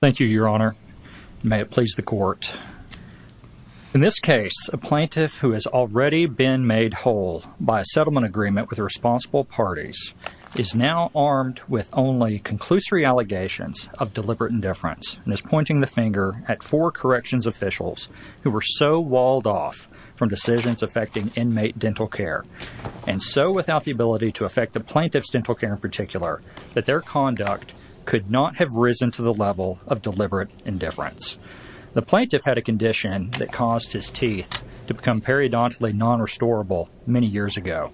Thank you, Your Honor. May it please the Court. In this case, a plaintiff who has already been made whole by a settlement agreement with responsible parties is now armed with only conclusory allegations of deliberate indifference and is pointing the finger at four corrections officials who were so walled off from decisions affecting inmate dental care and so without the ability to affect the plaintiff's dental care in particular that their conduct could not have risen to the level of deliberate indifference. The plaintiff had a condition that caused his teeth to become periodontally non-restorable many years ago.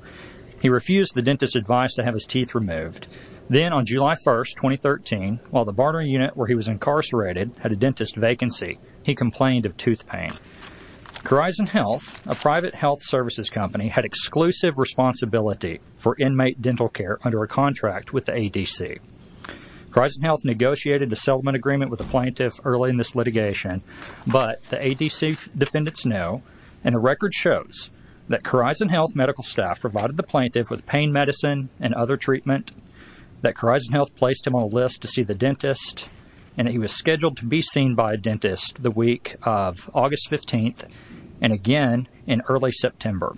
He refused the dentist's advice to have his teeth removed. Then, on July 1, 2013, while the barter unit where he was incarcerated had a dentist's vacancy, he complained of tooth pain. Corizon Health, a private health services company, had exclusive responsibility for inmate dental care under a contract with the ADC. Corizon Health negotiated a settlement agreement with the plaintiff early in this litigation, but the ADC defendants know, and a record shows, that Corizon Health medical staff provided the plaintiff with pain medicine and other treatment, that Corizon Health placed him on a list to see the dentist, and that he was scheduled to be seen by a dentist the week of August 15 and again in early September.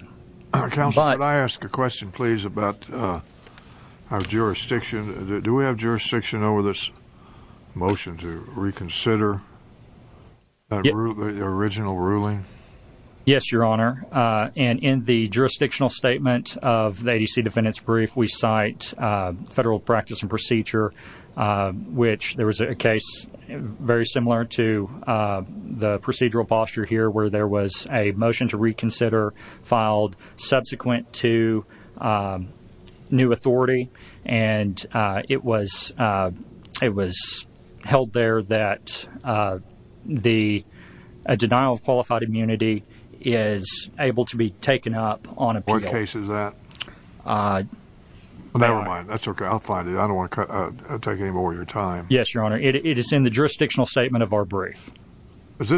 Counsel, could I ask a question, please, about our jurisdiction? Do we have jurisdiction over this motion to reconsider the original ruling? Yes, Your Honor, and in the jurisdictional statement of the ADC defendants' brief, we cite federal practice and procedure, which there was a case very similar to the procedural posture here, where there was a motion to reconsider filed subsequent to new authority, and it was held there that a denial of qualified immunity is able to be taken up on appeal. Never mind. I'll find it. I don't want to take any more of your time. Yes, Your Honor. It is in the jurisdictional statement of our brief. But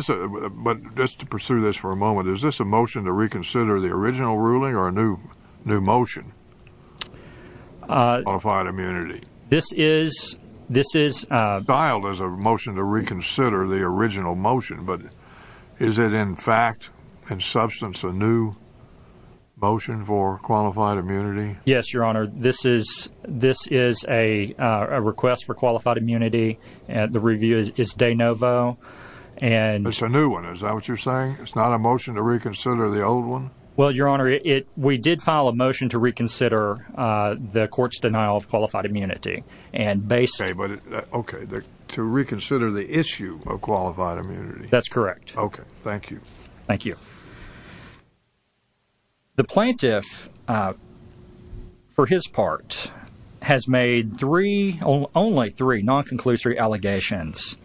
just to pursue this for a moment, is this a motion to reconsider the original ruling or a new motion on qualified immunity? Filed as a motion to reconsider the original motion, but is it in fact, in substance, a new motion for qualified immunity? Yes, Your Honor. This is a request for qualified immunity. The review is de novo. It's a new one. Is that what you're saying? It's not a motion to reconsider the old one? Well, Your Honor, we did file a motion to reconsider the court's denial of qualified immunity. Okay. To reconsider the issue of qualified immunity. That's correct. Okay. Thank you. Thank you. The plaintiff, for his part, has made only three non-conclusory allegations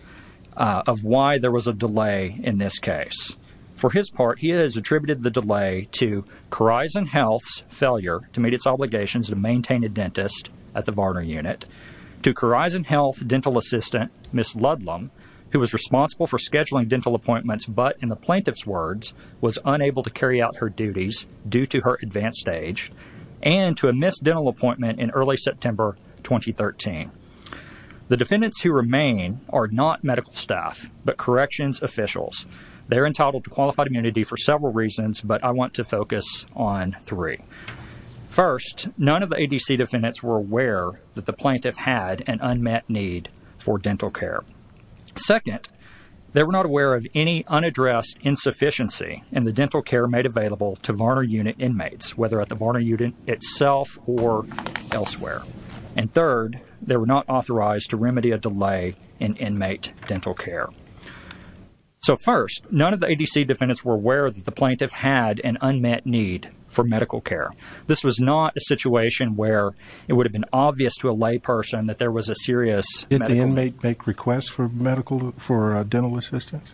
of why there was a delay in this case. For his part, he has attributed the delay to Khorizan Health's failure to meet its obligations to maintain a dentist at the Varner unit, to Khorizan Health dental assistant, Ms. Ludlam, who was responsible for scheduling dental appointments, but in the plaintiff's words, was unable to carry out her duties due to her advanced age, and to a missed dental appointment in early September 2013. The defendants who remain are not medical staff, but corrections officials. They're entitled to qualified immunity for several reasons, but I want to focus on three. First, none of the ADC defendants were aware that the plaintiff had an unmet need for dental care. Second, they were not aware of any unaddressed insufficiency in the dental care made available to Varner unit inmates, whether at the Varner unit itself or elsewhere. And third, they were not authorized to remedy a delay in inmate dental care. So first, none of the ADC defendants were aware that the plaintiff had an unmet need for medical care. This was not a situation where it would have been obvious to a layperson that there was a serious medical need. Did the inmate make requests for dental assistance?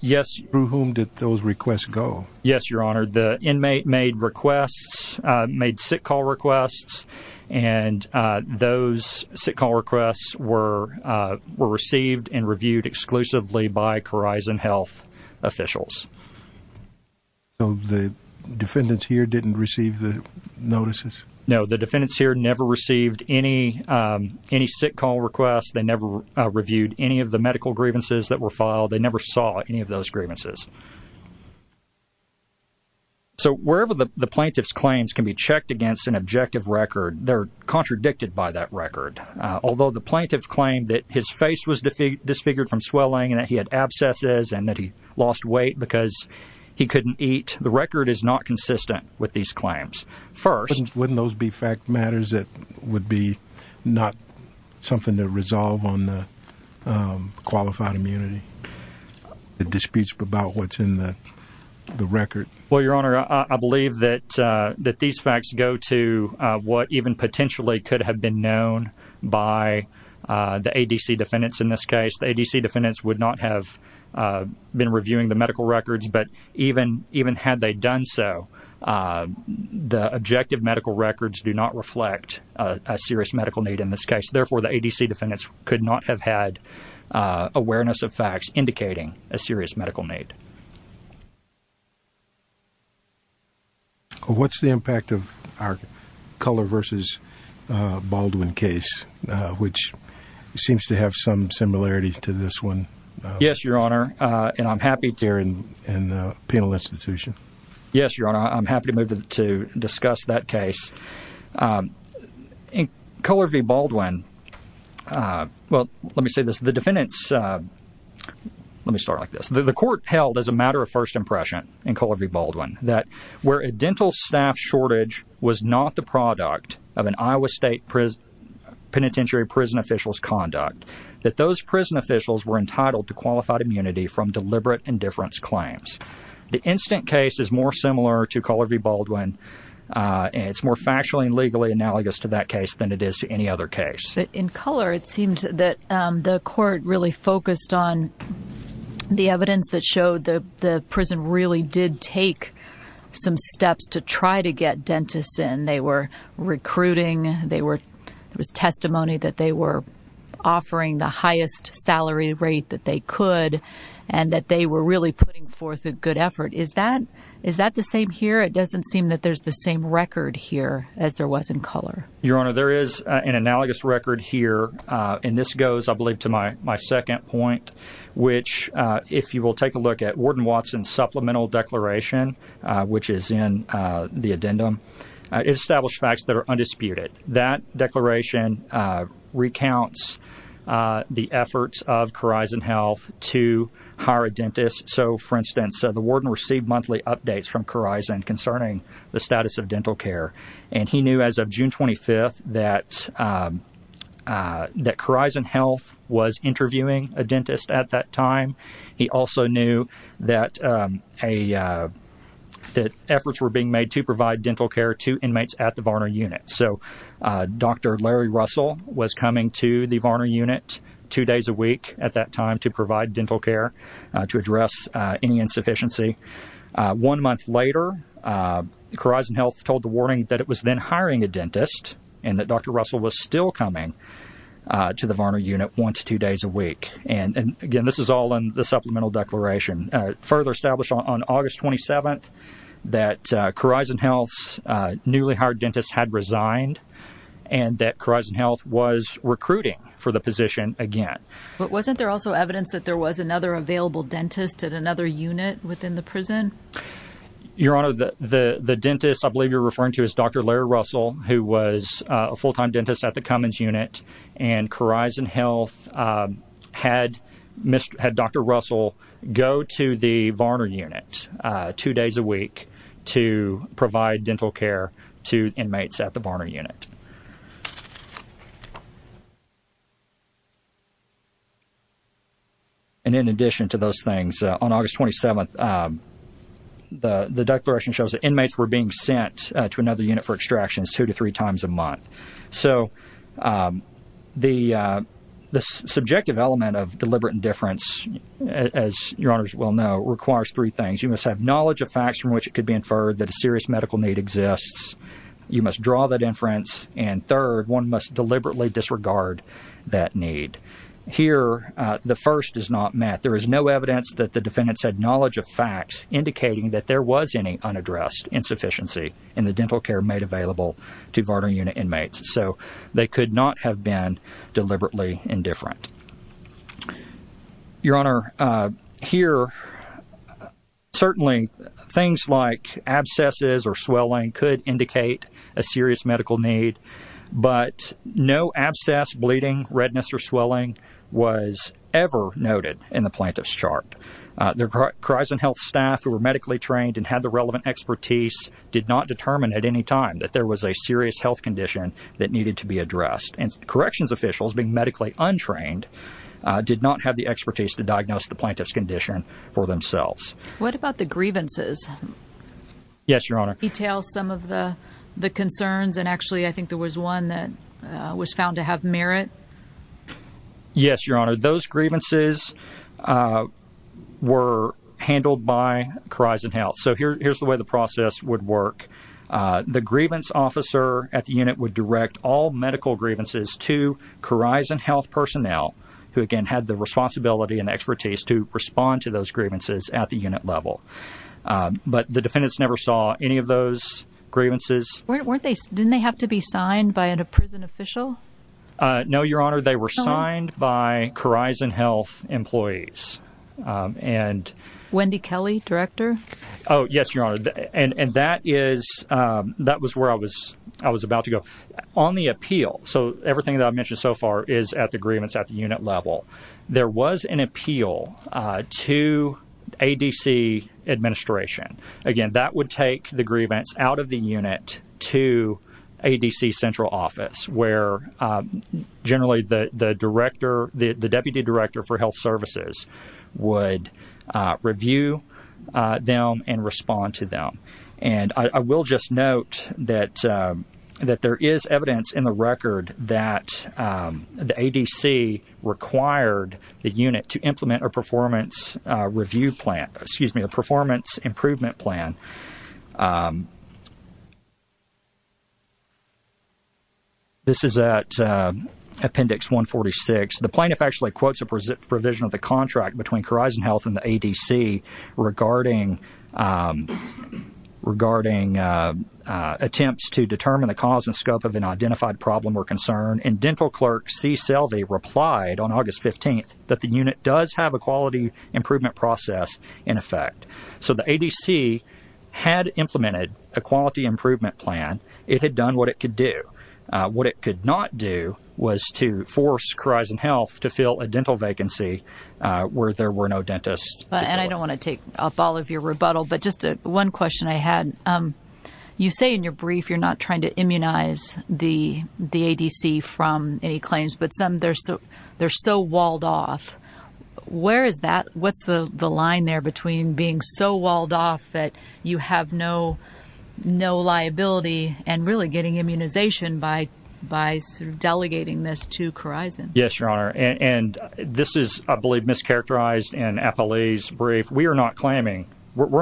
Yes. Through whom did those requests go? Yes, Your Honor. The inmate made requests, made sick call requests, and those sick call requests were received and reviewed exclusively by Corizon Health officials. So the defendants here didn't receive the notices? No, the defendants here never received any sick call requests. They never reviewed any of the medical grievances that were filed. They never saw any of those grievances. So wherever the plaintiff's claims can be checked against an objective record, they're contradicted by that record. Although the plaintiff claimed that his face was disfigured from swelling and that he had abscesses and that he lost weight because he couldn't eat, the record is not consistent with these claims. Wouldn't those be fact matters that would be not something to resolve on the qualified immunity, the disputes about what's in the record? Well, Your Honor, I believe that these facts go to what even potentially could have been known by the ADC defendants in this case. The ADC defendants would not have been reviewing the medical records, but even had they done so, the objective medical records do not reflect a serious medical need in this case. Therefore, the ADC defendants could not have had awareness of facts indicating a serious medical need. What's the impact of our Culler v. Baldwin case, which seems to have some similarities to this one? Yes, Your Honor, and I'm happy to... Here in the penal institution? Yes, Your Honor, I'm happy to move to discuss that case. In Culler v. Baldwin, well, let me say this. The defendants, let me start like this. The court held as a matter of first impression in Culler v. Baldwin, that where a dental staff shortage was not the product of an Iowa State Penitentiary prison official's conduct, that those prison officials were entitled to qualified immunity from deliberate indifference claims. The instant case is more similar to Culler v. Baldwin, and it's more factually and legally analogous to that case than it is to any other case. But in Culler, it seems that the court really focused on the evidence that showed that the prison really did take some steps to try to get dentists in. They were recruiting, there was testimony that they were offering the highest salary rate that they could, and that they were really putting forth a good effort. Is that the same here? It doesn't seem that there's the same record here as there was in Culler. Your Honor, there is an analogous record here, and this goes, I believe, to my second point, which, if you will take a look at Warden Watson's supplemental declaration, which is in the addendum, it established facts that are undisputed. That declaration recounts the efforts of Corizon Health to hire a dentist. So, for instance, the warden received monthly updates from Corizon concerning the status of dental care, and he knew as of June 25th that Corizon Health was interviewing a dentist at that time. He also knew that efforts were being made to provide dental care to inmates at the Varner Unit. So, Dr. Larry Russell was coming to the Varner Unit two days a week at that time to provide dental care to address any insufficiency. One month later, Corizon Health told the warden that it was then hiring a dentist, and that Dr. Russell was still coming to the Varner Unit once two days a week. And, again, this is all in the supplemental declaration. Further established on August 27th that Corizon Health's newly hired dentist had resigned and that Corizon Health was recruiting for the position again. But wasn't there also evidence that there was another available dentist at another unit within the prison? Your Honor, the dentist I believe you're referring to is Dr. Larry Russell, who was a full-time dentist at the Cummins Unit, and Corizon Health had Dr. Russell go to the Varner Unit two days a week to provide dental care to inmates at the Varner Unit. And in addition to those things, on August 27th, the declaration shows that inmates were being sent to another unit for extraction two to three times a month. So the subjective element of deliberate indifference, as Your Honors well know, requires three things. You must have knowledge of facts from which it could be inferred that a serious medical need exists. You must draw that inference. And third, one must deliberately disregard that need. Here, the first is not met. There is no evidence that the defendants had knowledge of facts indicating that there was any unaddressed insufficiency in the dental care made available to Varner Unit inmates. So they could not have been deliberately indifferent. Your Honor, here, certainly things like abscesses or swelling could indicate a serious medical need, but no abscess, bleeding, redness, or swelling was ever noted in the plaintiff's chart. The Corizon Health staff who were medically trained and had the relevant expertise did not determine at any time that there was a serious health condition that needed to be addressed. And corrections officials, being medically untrained, did not have the expertise to diagnose the plaintiff's condition for themselves. What about the grievances? Yes, Your Honor. Can you detail some of the concerns? And actually, I think there was one that was found to have merit. Yes, Your Honor. Those grievances were handled by Corizon Health. So here's the way the process would work. The grievance officer at the unit would direct all medical grievances to Corizon Health personnel who, again, had the responsibility and expertise to respond to those grievances at the unit level. But the defendants never saw any of those grievances. Didn't they have to be signed by a prison official? No, Your Honor. They were signed by Corizon Health employees. Wendy Kelly, director? Oh, yes, Your Honor. And that was where I was about to go. On the appeal, so everything that I've mentioned so far is at the grievance at the unit level, there was an appeal to ADC administration. Again, that would take the grievance out of the unit to ADC central office, where generally the deputy director for health services would review them and respond to them. And I will just note that there is evidence in the record that the ADC required the unit to implement a performance review plan, excuse me, a performance improvement plan. This is at appendix 146. The plaintiff actually quotes a provision of the contract between Corizon Health and the ADC regarding attempts to determine the cause and scope of an identified problem or concern. And dental clerk C. Selvey replied on August 15th that the unit does have a quality improvement process in effect. So the ADC had implemented a quality improvement plan. It had done what it could do. What it could not do was to force Corizon Health to fill a dental vacancy where there were no dentists. And I don't want to take up all of your rebuttal, but just one question I had. You say in your brief you're not trying to immunize the ADC from any claims, but some, they're so walled off. Where is that? What's the line there between being so walled off that you have no liability and really getting immunization by delegating this to Corizon? Yes, Your Honor. And this is, I believe, mischaracterized in Appalachia's brief. We're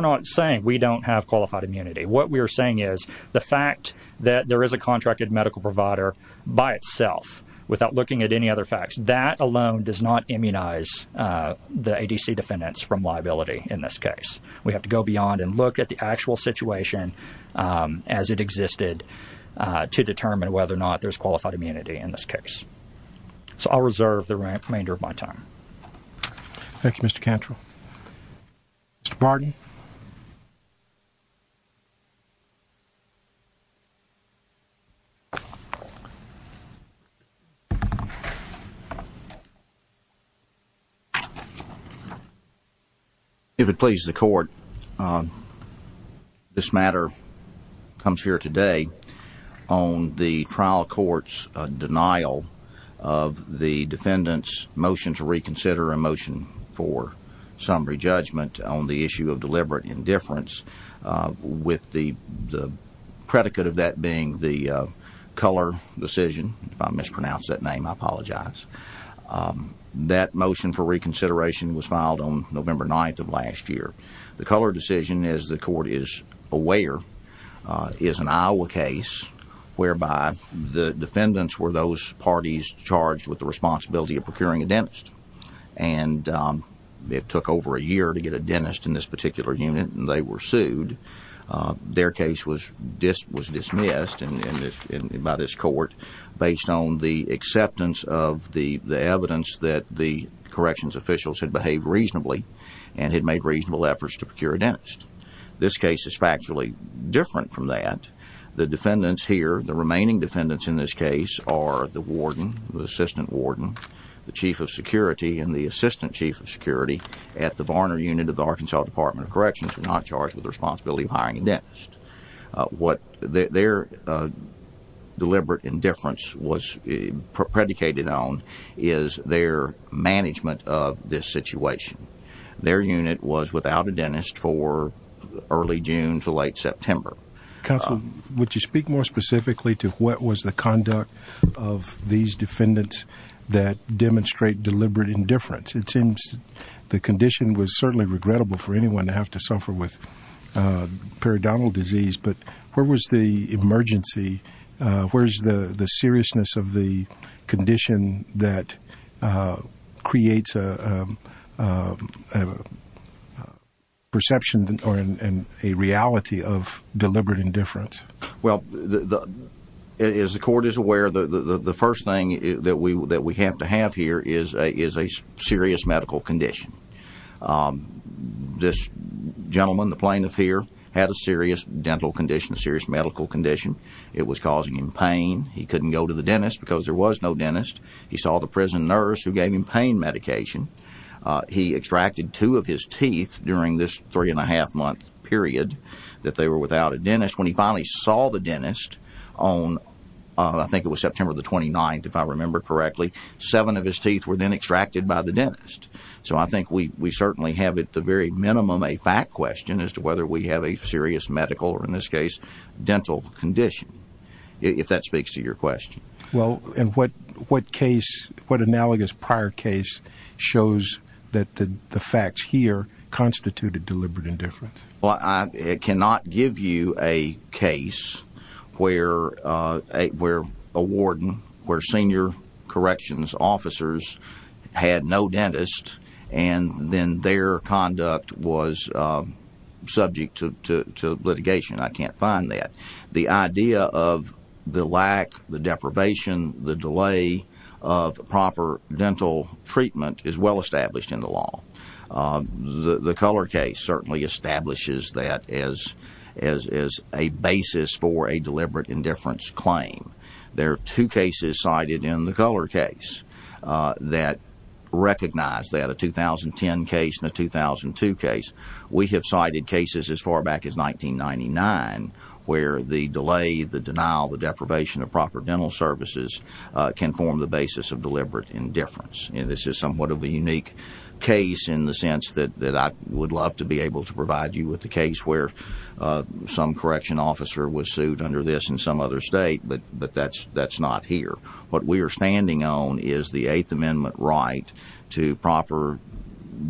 not saying we don't have qualified immunity. What we are saying is the fact that there is a contracted medical provider by itself without looking at any other facts, that alone does not immunize the ADC defendants from liability in this case. We have to go beyond and look at the actual situation as it existed to determine whether or not there's qualified immunity in this case. So I'll reserve the remainder of my time. Thank you, Mr. Cantrell. Mr. Barton? If it pleases the court, this matter comes here today on the trial court's denial of the defendant's motion to reconsider a motion for summary judgment on the issue of deliberate indifference, with the predicate of that being the Culler decision. If I mispronounce that name, I apologize. That motion for reconsideration was filed on November 9th of last year. The Culler decision, as the court is aware, is an Iowa case whereby the defendants were those parties charged with the responsibility of procuring a dentist. And it took over a year to get a dentist in this particular unit, and they were sued. Their case was dismissed by this court based on the acceptance of the evidence that the corrections officials had behaved reasonably and had made reasonable efforts to procure a dentist. This case is factually different from that. The defendants here, the remaining defendants in this case, are the warden, the assistant warden, the chief of security, and the assistant chief of security at the Varner unit of the Arkansas Department of Corrections, who are not charged with the responsibility of hiring a dentist. What their deliberate indifference was predicated on is their management of this situation. Their unit was without a dentist for early June to late September. Counsel, would you speak more specifically to what was the conduct of these defendants that demonstrate deliberate indifference? It seems the condition was certainly regrettable for anyone to have to suffer with periodontal disease, but where was the emergency? Where's the seriousness of the condition that creates a perception or a reality of deliberate indifference? Well, as the court is aware, the first thing that we have to have here is a serious medical condition. This gentleman, the plaintiff here, had a serious dental condition, a serious medical condition. It was causing him pain. He couldn't go to the dentist because there was no dentist. He saw the prison nurse who gave him pain medication. He extracted two of his teeth during this three-and-a-half-month period that they were without a dentist. When he finally saw the dentist on, I think it was September the 29th, if I remember correctly, seven of his teeth were then extracted by the dentist. So I think we certainly have at the very minimum a fact question as to whether we have a serious medical or, in this case, dental condition, if that speaks to your question. Well, and what analogous prior case shows that the facts here constituted deliberate indifference? Well, I cannot give you a case where a warden, where senior corrections officers had no dentist and then their conduct was subject to litigation. I can't find that. The idea of the lack, the deprivation, the delay of proper dental treatment is well established in the law. The Culler case certainly establishes that as a basis for a deliberate indifference claim. There are two cases cited in the Culler case that recognize that, a 2010 case and a 2002 case. We have cited cases as far back as 1999 where the delay, the denial, the deprivation of proper dental services can form the basis of deliberate indifference. And this is somewhat of a unique case in the sense that I would love to be able to provide you with the case where some correction officer was sued under this in some other state, but that's not here. What we are standing on is the Eighth Amendment right to proper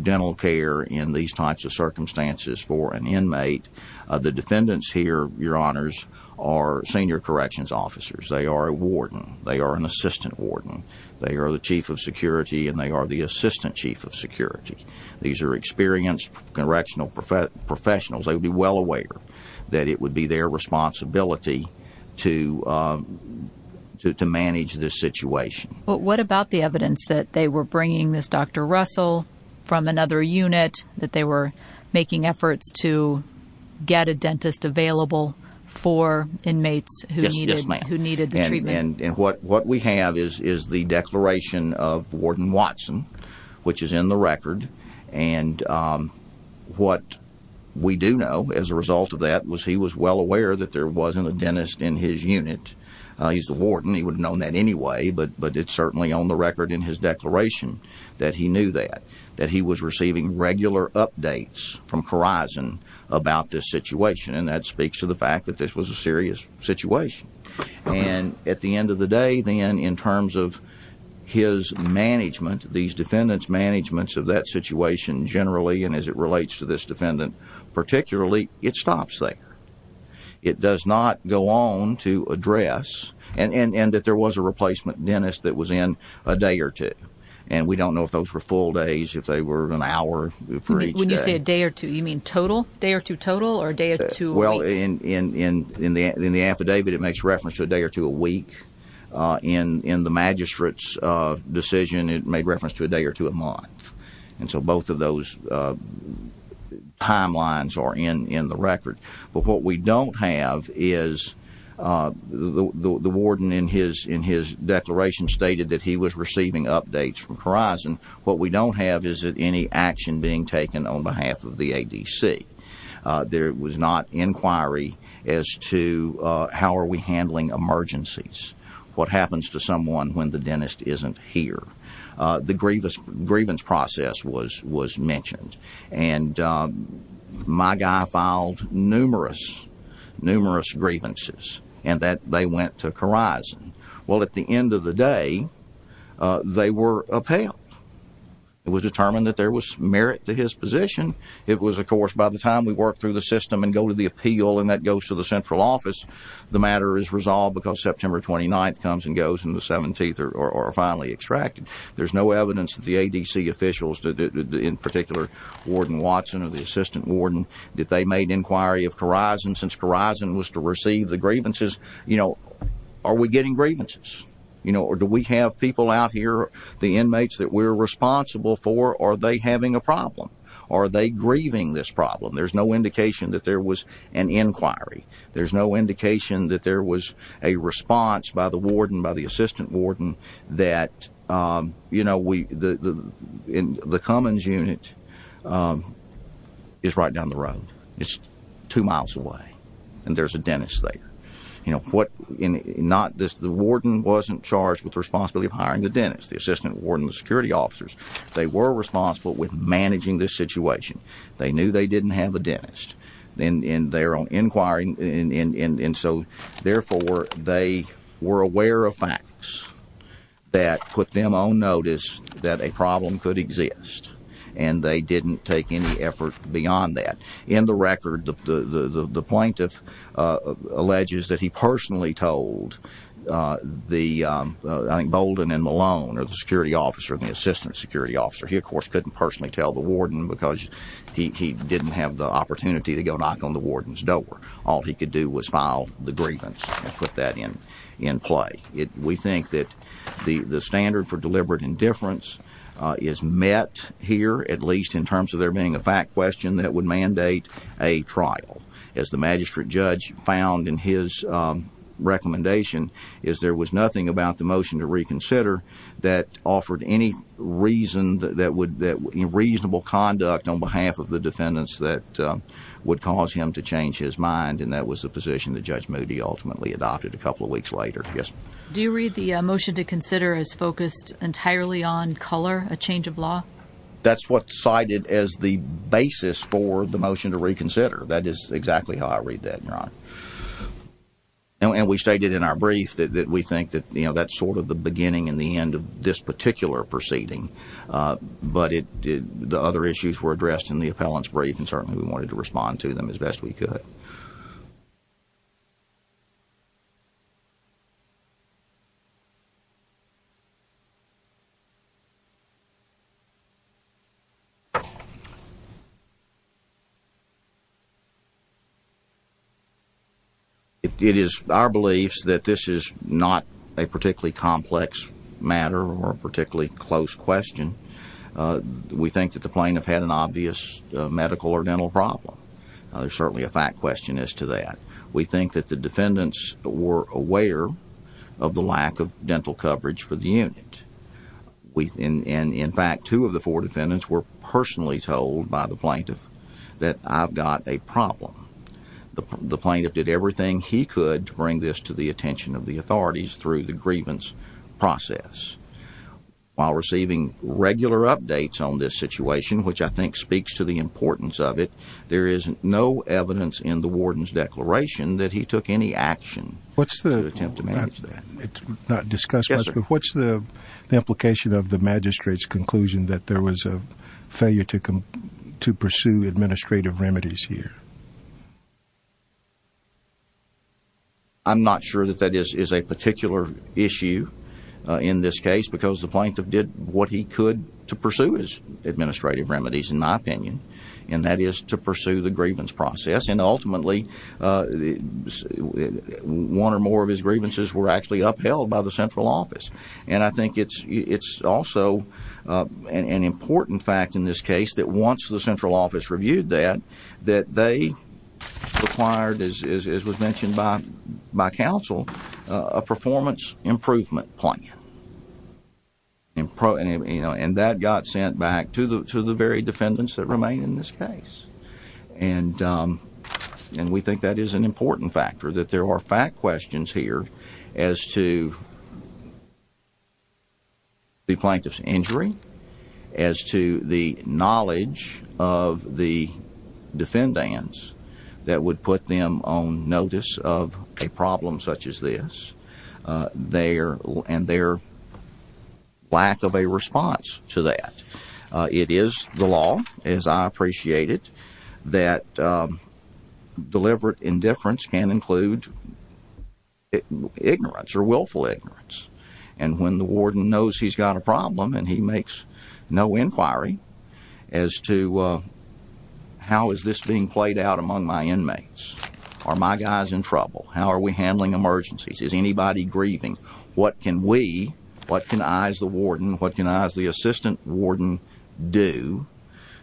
dental care in these types of circumstances for an inmate. The defendants here, your honors, are senior corrections officers. They are a warden. They are an assistant warden. They are the chief of security, and they are the assistant chief of security. These are experienced correctional professionals. They would be well aware that it would be their responsibility to manage this situation. But what about the evidence that they were bringing this Dr. Russell from another unit, that they were making efforts to get a dentist available for inmates who needed the treatment? Yes, ma'am. And what we have is the declaration of Warden Watson, which is in the record. And what we do know as a result of that was he was well aware that there wasn't a dentist in his unit. He's the warden. He would have known that anyway, but it's certainly on the record in his declaration that he knew that, that he was receiving regular updates from Khorizon about this situation. And that speaks to the fact that this was a serious situation. And at the end of the day, then, in terms of his management, these defendants' managements of that situation generally and as it relates to this defendant particularly, it stops there. It does not go on to address, and that there was a replacement dentist that was in a day or two. And we don't know if those were full days, if they were an hour for each day. When you say a day or two, you mean total? Day or two total or a day or two week? Well, in the affidavit, it makes reference to a day or two a week. In the magistrate's decision, it made reference to a day or two a month. And so both of those timelines are in the record. But what we don't have is the warden in his declaration stated that he was receiving updates from Khorizon. What we don't have is any action being taken on behalf of the ADC. There was not inquiry as to how are we handling emergencies, what happens to someone when the dentist isn't here. The grievance process was mentioned. And my guy filed numerous, numerous grievances and that they went to Khorizon. Well, at the end of the day, they were upheld. It was determined that there was merit to his position. It was, of course, by the time we work through the system and go to the appeal and that goes to the central office, the matter is resolved because September 29th comes and goes and the 17th are finally extracted. There's no evidence that the ADC officials, in particular, Warden Watson or the assistant warden, that they made inquiry of Khorizon since Khorizon was to receive the grievances. You know, are we getting grievances? You know, or do we have people out here, the inmates that we're responsible for, are they having a problem? Are they grieving this problem? There's no indication that there was an inquiry. There's no indication that there was a response by the warden, by the assistant warden, that, you know, the Cummins unit is right down the road. It's two miles away and there's a dentist there. You know, the warden wasn't charged with the responsibility of hiring the dentist. The assistant warden, the security officers, they were responsible with managing this situation. They knew they didn't have a dentist and they're on inquiry and so, therefore, they were aware of facts that put them on notice that a problem could exist and they didn't take any effort beyond that. In the record, the plaintiff alleges that he personally told the, I think, Bolden and Malone, or the security officer and the assistant security officer. He, of course, couldn't personally tell the warden because he didn't have the opportunity to go knock on the warden's door. All he could do was file the grievance and put that in play. We think that the standard for deliberate indifference is met here, at least in terms of there being a fact question that would mandate a trial. As the magistrate judge found in his recommendation, is there was nothing about the motion to reconsider that offered any reason that would, you know, reasonable conduct on behalf of the defendants that would cause him to change his mind and that was the position that Judge Moody ultimately adopted a couple of weeks later. Do you read the motion to consider as focused entirely on color, a change of law? That's what's cited as the basis for the motion to reconsider. That is exactly how I read that, Your Honor. And we stated in our brief that we think that, you know, that's sort of the beginning and the end of this particular proceeding. But the other issues were addressed in the appellant's brief and certainly we wanted to respond to them as best we could. It is our belief that this is not a particularly complex matter or a particularly close question. We think that the plaintiff had an obvious medical or dental problem. There's certainly a fact question as to that. We think that the defendants were aware of the lack of dental coverage for the unit. And in fact, two of the four defendants were personally told by the plaintiff that I've got a problem. The plaintiff did everything he could to bring this to the attention of the authorities through the grievance process. While receiving regular updates on this situation, which I think speaks to the importance of it, there is no evidence in the warden's declaration that he took any action to attempt to manage that. What's the implication of the magistrate's conclusion that there was a failure to pursue administrative remedies here? I'm not sure that that is a particular issue in this case because the plaintiff did what he could to pursue his administrative remedies, in my opinion, and that is to pursue the grievance process. And ultimately, one or more of his grievances were actually upheld by the central office. And I think it's also an important fact in this case that once the central office reviewed that, that they required, as was mentioned by counsel, a performance improvement plan. And that got sent back to the very defendants that remain in this case. And we think that is an important factor, that there are fact questions here as to the plaintiff's injury, as to the knowledge of the defendants that would put them on notice of a problem such as this, and their lack of a response to that. It is the law, as I appreciate it, that deliberate indifference can include ignorance or willful ignorance. And when the warden knows he's got a problem and he makes no inquiry as to how is this being played out among my inmates, are my guys in trouble, how are we handling emergencies, is anybody grieving, what can we, what can I as the warden, what can I as the assistant warden do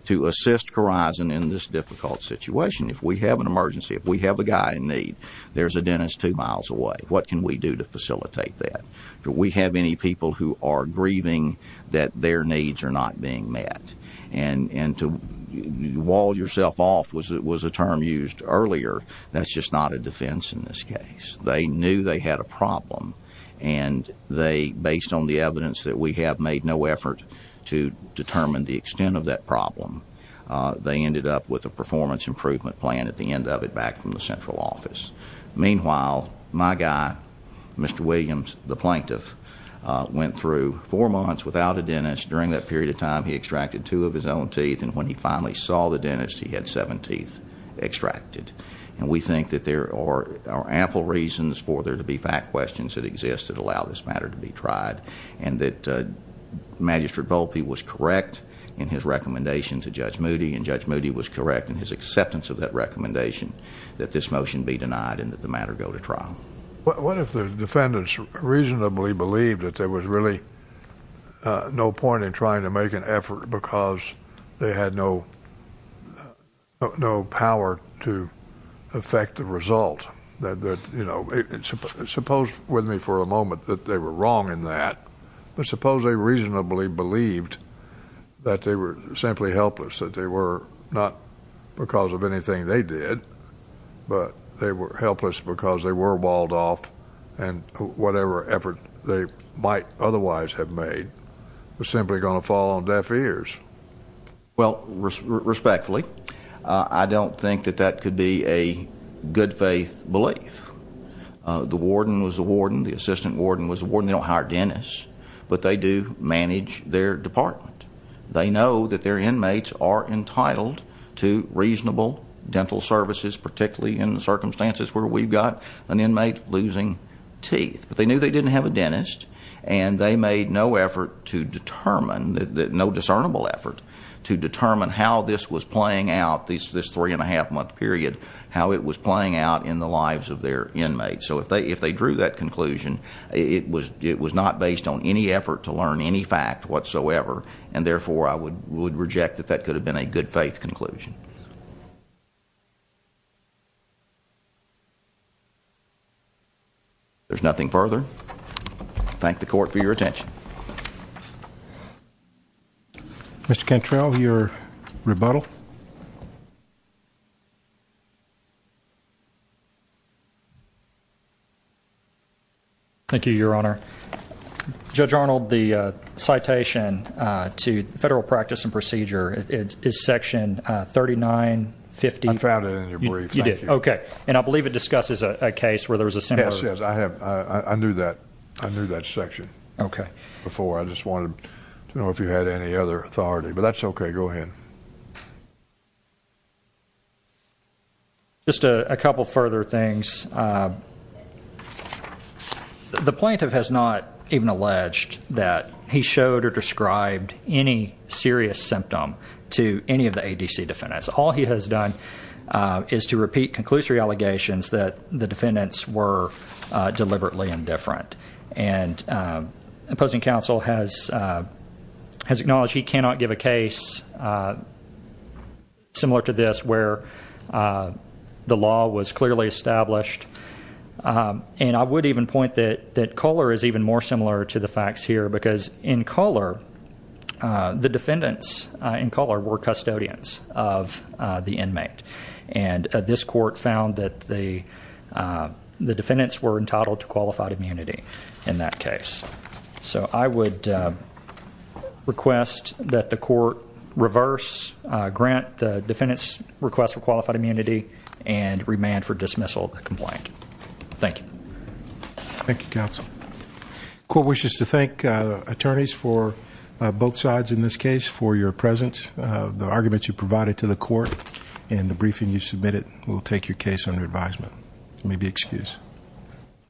to assist Corison in this difficult situation? If we have an emergency, if we have a guy in need, there's a dentist two miles away, what can we do to facilitate that? Do we have any people who are grieving that their needs are not being met? And to wall yourself off was a term used earlier, that's just not a defense in this case. They knew they had a problem, and they, based on the evidence that we have made no effort to determine the extent of that problem, they ended up with a performance improvement plan at the end of it back from the central office. Meanwhile, my guy, Mr. Williams, the plaintiff, went through four months without a dentist. During that period of time, he extracted two of his own teeth, and when he finally saw the dentist, he had seven teeth extracted. And we think that there are ample reasons for there to be fact questions that exist that allow this matter to be tried, and that Magistrate Volpe was correct in his recommendation to Judge Moody, and Judge Moody was correct in his acceptance of that recommendation that this motion be denied and that the matter go to trial. What if the defendants reasonably believed that there was really no point in trying to make an effort because they had no power to affect the result? Suppose with me for a moment that they were wrong in that. But suppose they reasonably believed that they were simply helpless, that they were not because of anything they did, but they were helpless because they were walled off, and whatever effort they might otherwise have made was simply going to fall on deaf ears. Well, respectfully, I don't think that that could be a good-faith belief. The warden was the warden. The assistant warden was the warden. They don't hire dentists, but they do manage their department. They know that their inmates are entitled to reasonable dental services, particularly in the circumstances where we've got an inmate losing teeth. But they knew they didn't have a dentist, and they made no effort to determine, no discernible effort, to determine how this was playing out, this three-and-a-half-month period, how it was playing out in the lives of their inmates. So if they drew that conclusion, it was not based on any effort to learn any fact whatsoever, and, therefore, I would reject that that could have been a good-faith conclusion. There's nothing further. Thank the Court for your attention. Mr. Cantrell, your rebuttal. Thank you, Your Honor. Judge Arnold, the citation to federal practice and procedure is Section 3950. I found it in your brief. You did? Okay. And I believe it discusses a case where there was a similar. Yes, yes, I have. I knew that. I knew that section. Okay. Before, I just wanted to know if you had any other authority. But that's okay. Go ahead. Just a couple further things. The plaintiff has not even alleged that he showed or described any serious symptom to any of the ADC defendants. All he has done is to repeat conclusory allegations that the defendants were deliberately indifferent. And opposing counsel has acknowledged he cannot give a case similar to this where the law was clearly established. And I would even point that Kohler is even more similar to the facts here, because in Kohler, the defendants in Kohler were custodians of the inmate. And this court found that the defendants were entitled to qualified immunity in that case. So I would request that the court reverse grant the defendants request for qualified immunity and remand for dismissal the complaint. Thank you. Thank you, counsel. Court wishes to thank attorneys for both sides in this case for your presence. The arguments you provided to the court and the briefing you submitted will take your case under advisement. You may be excused.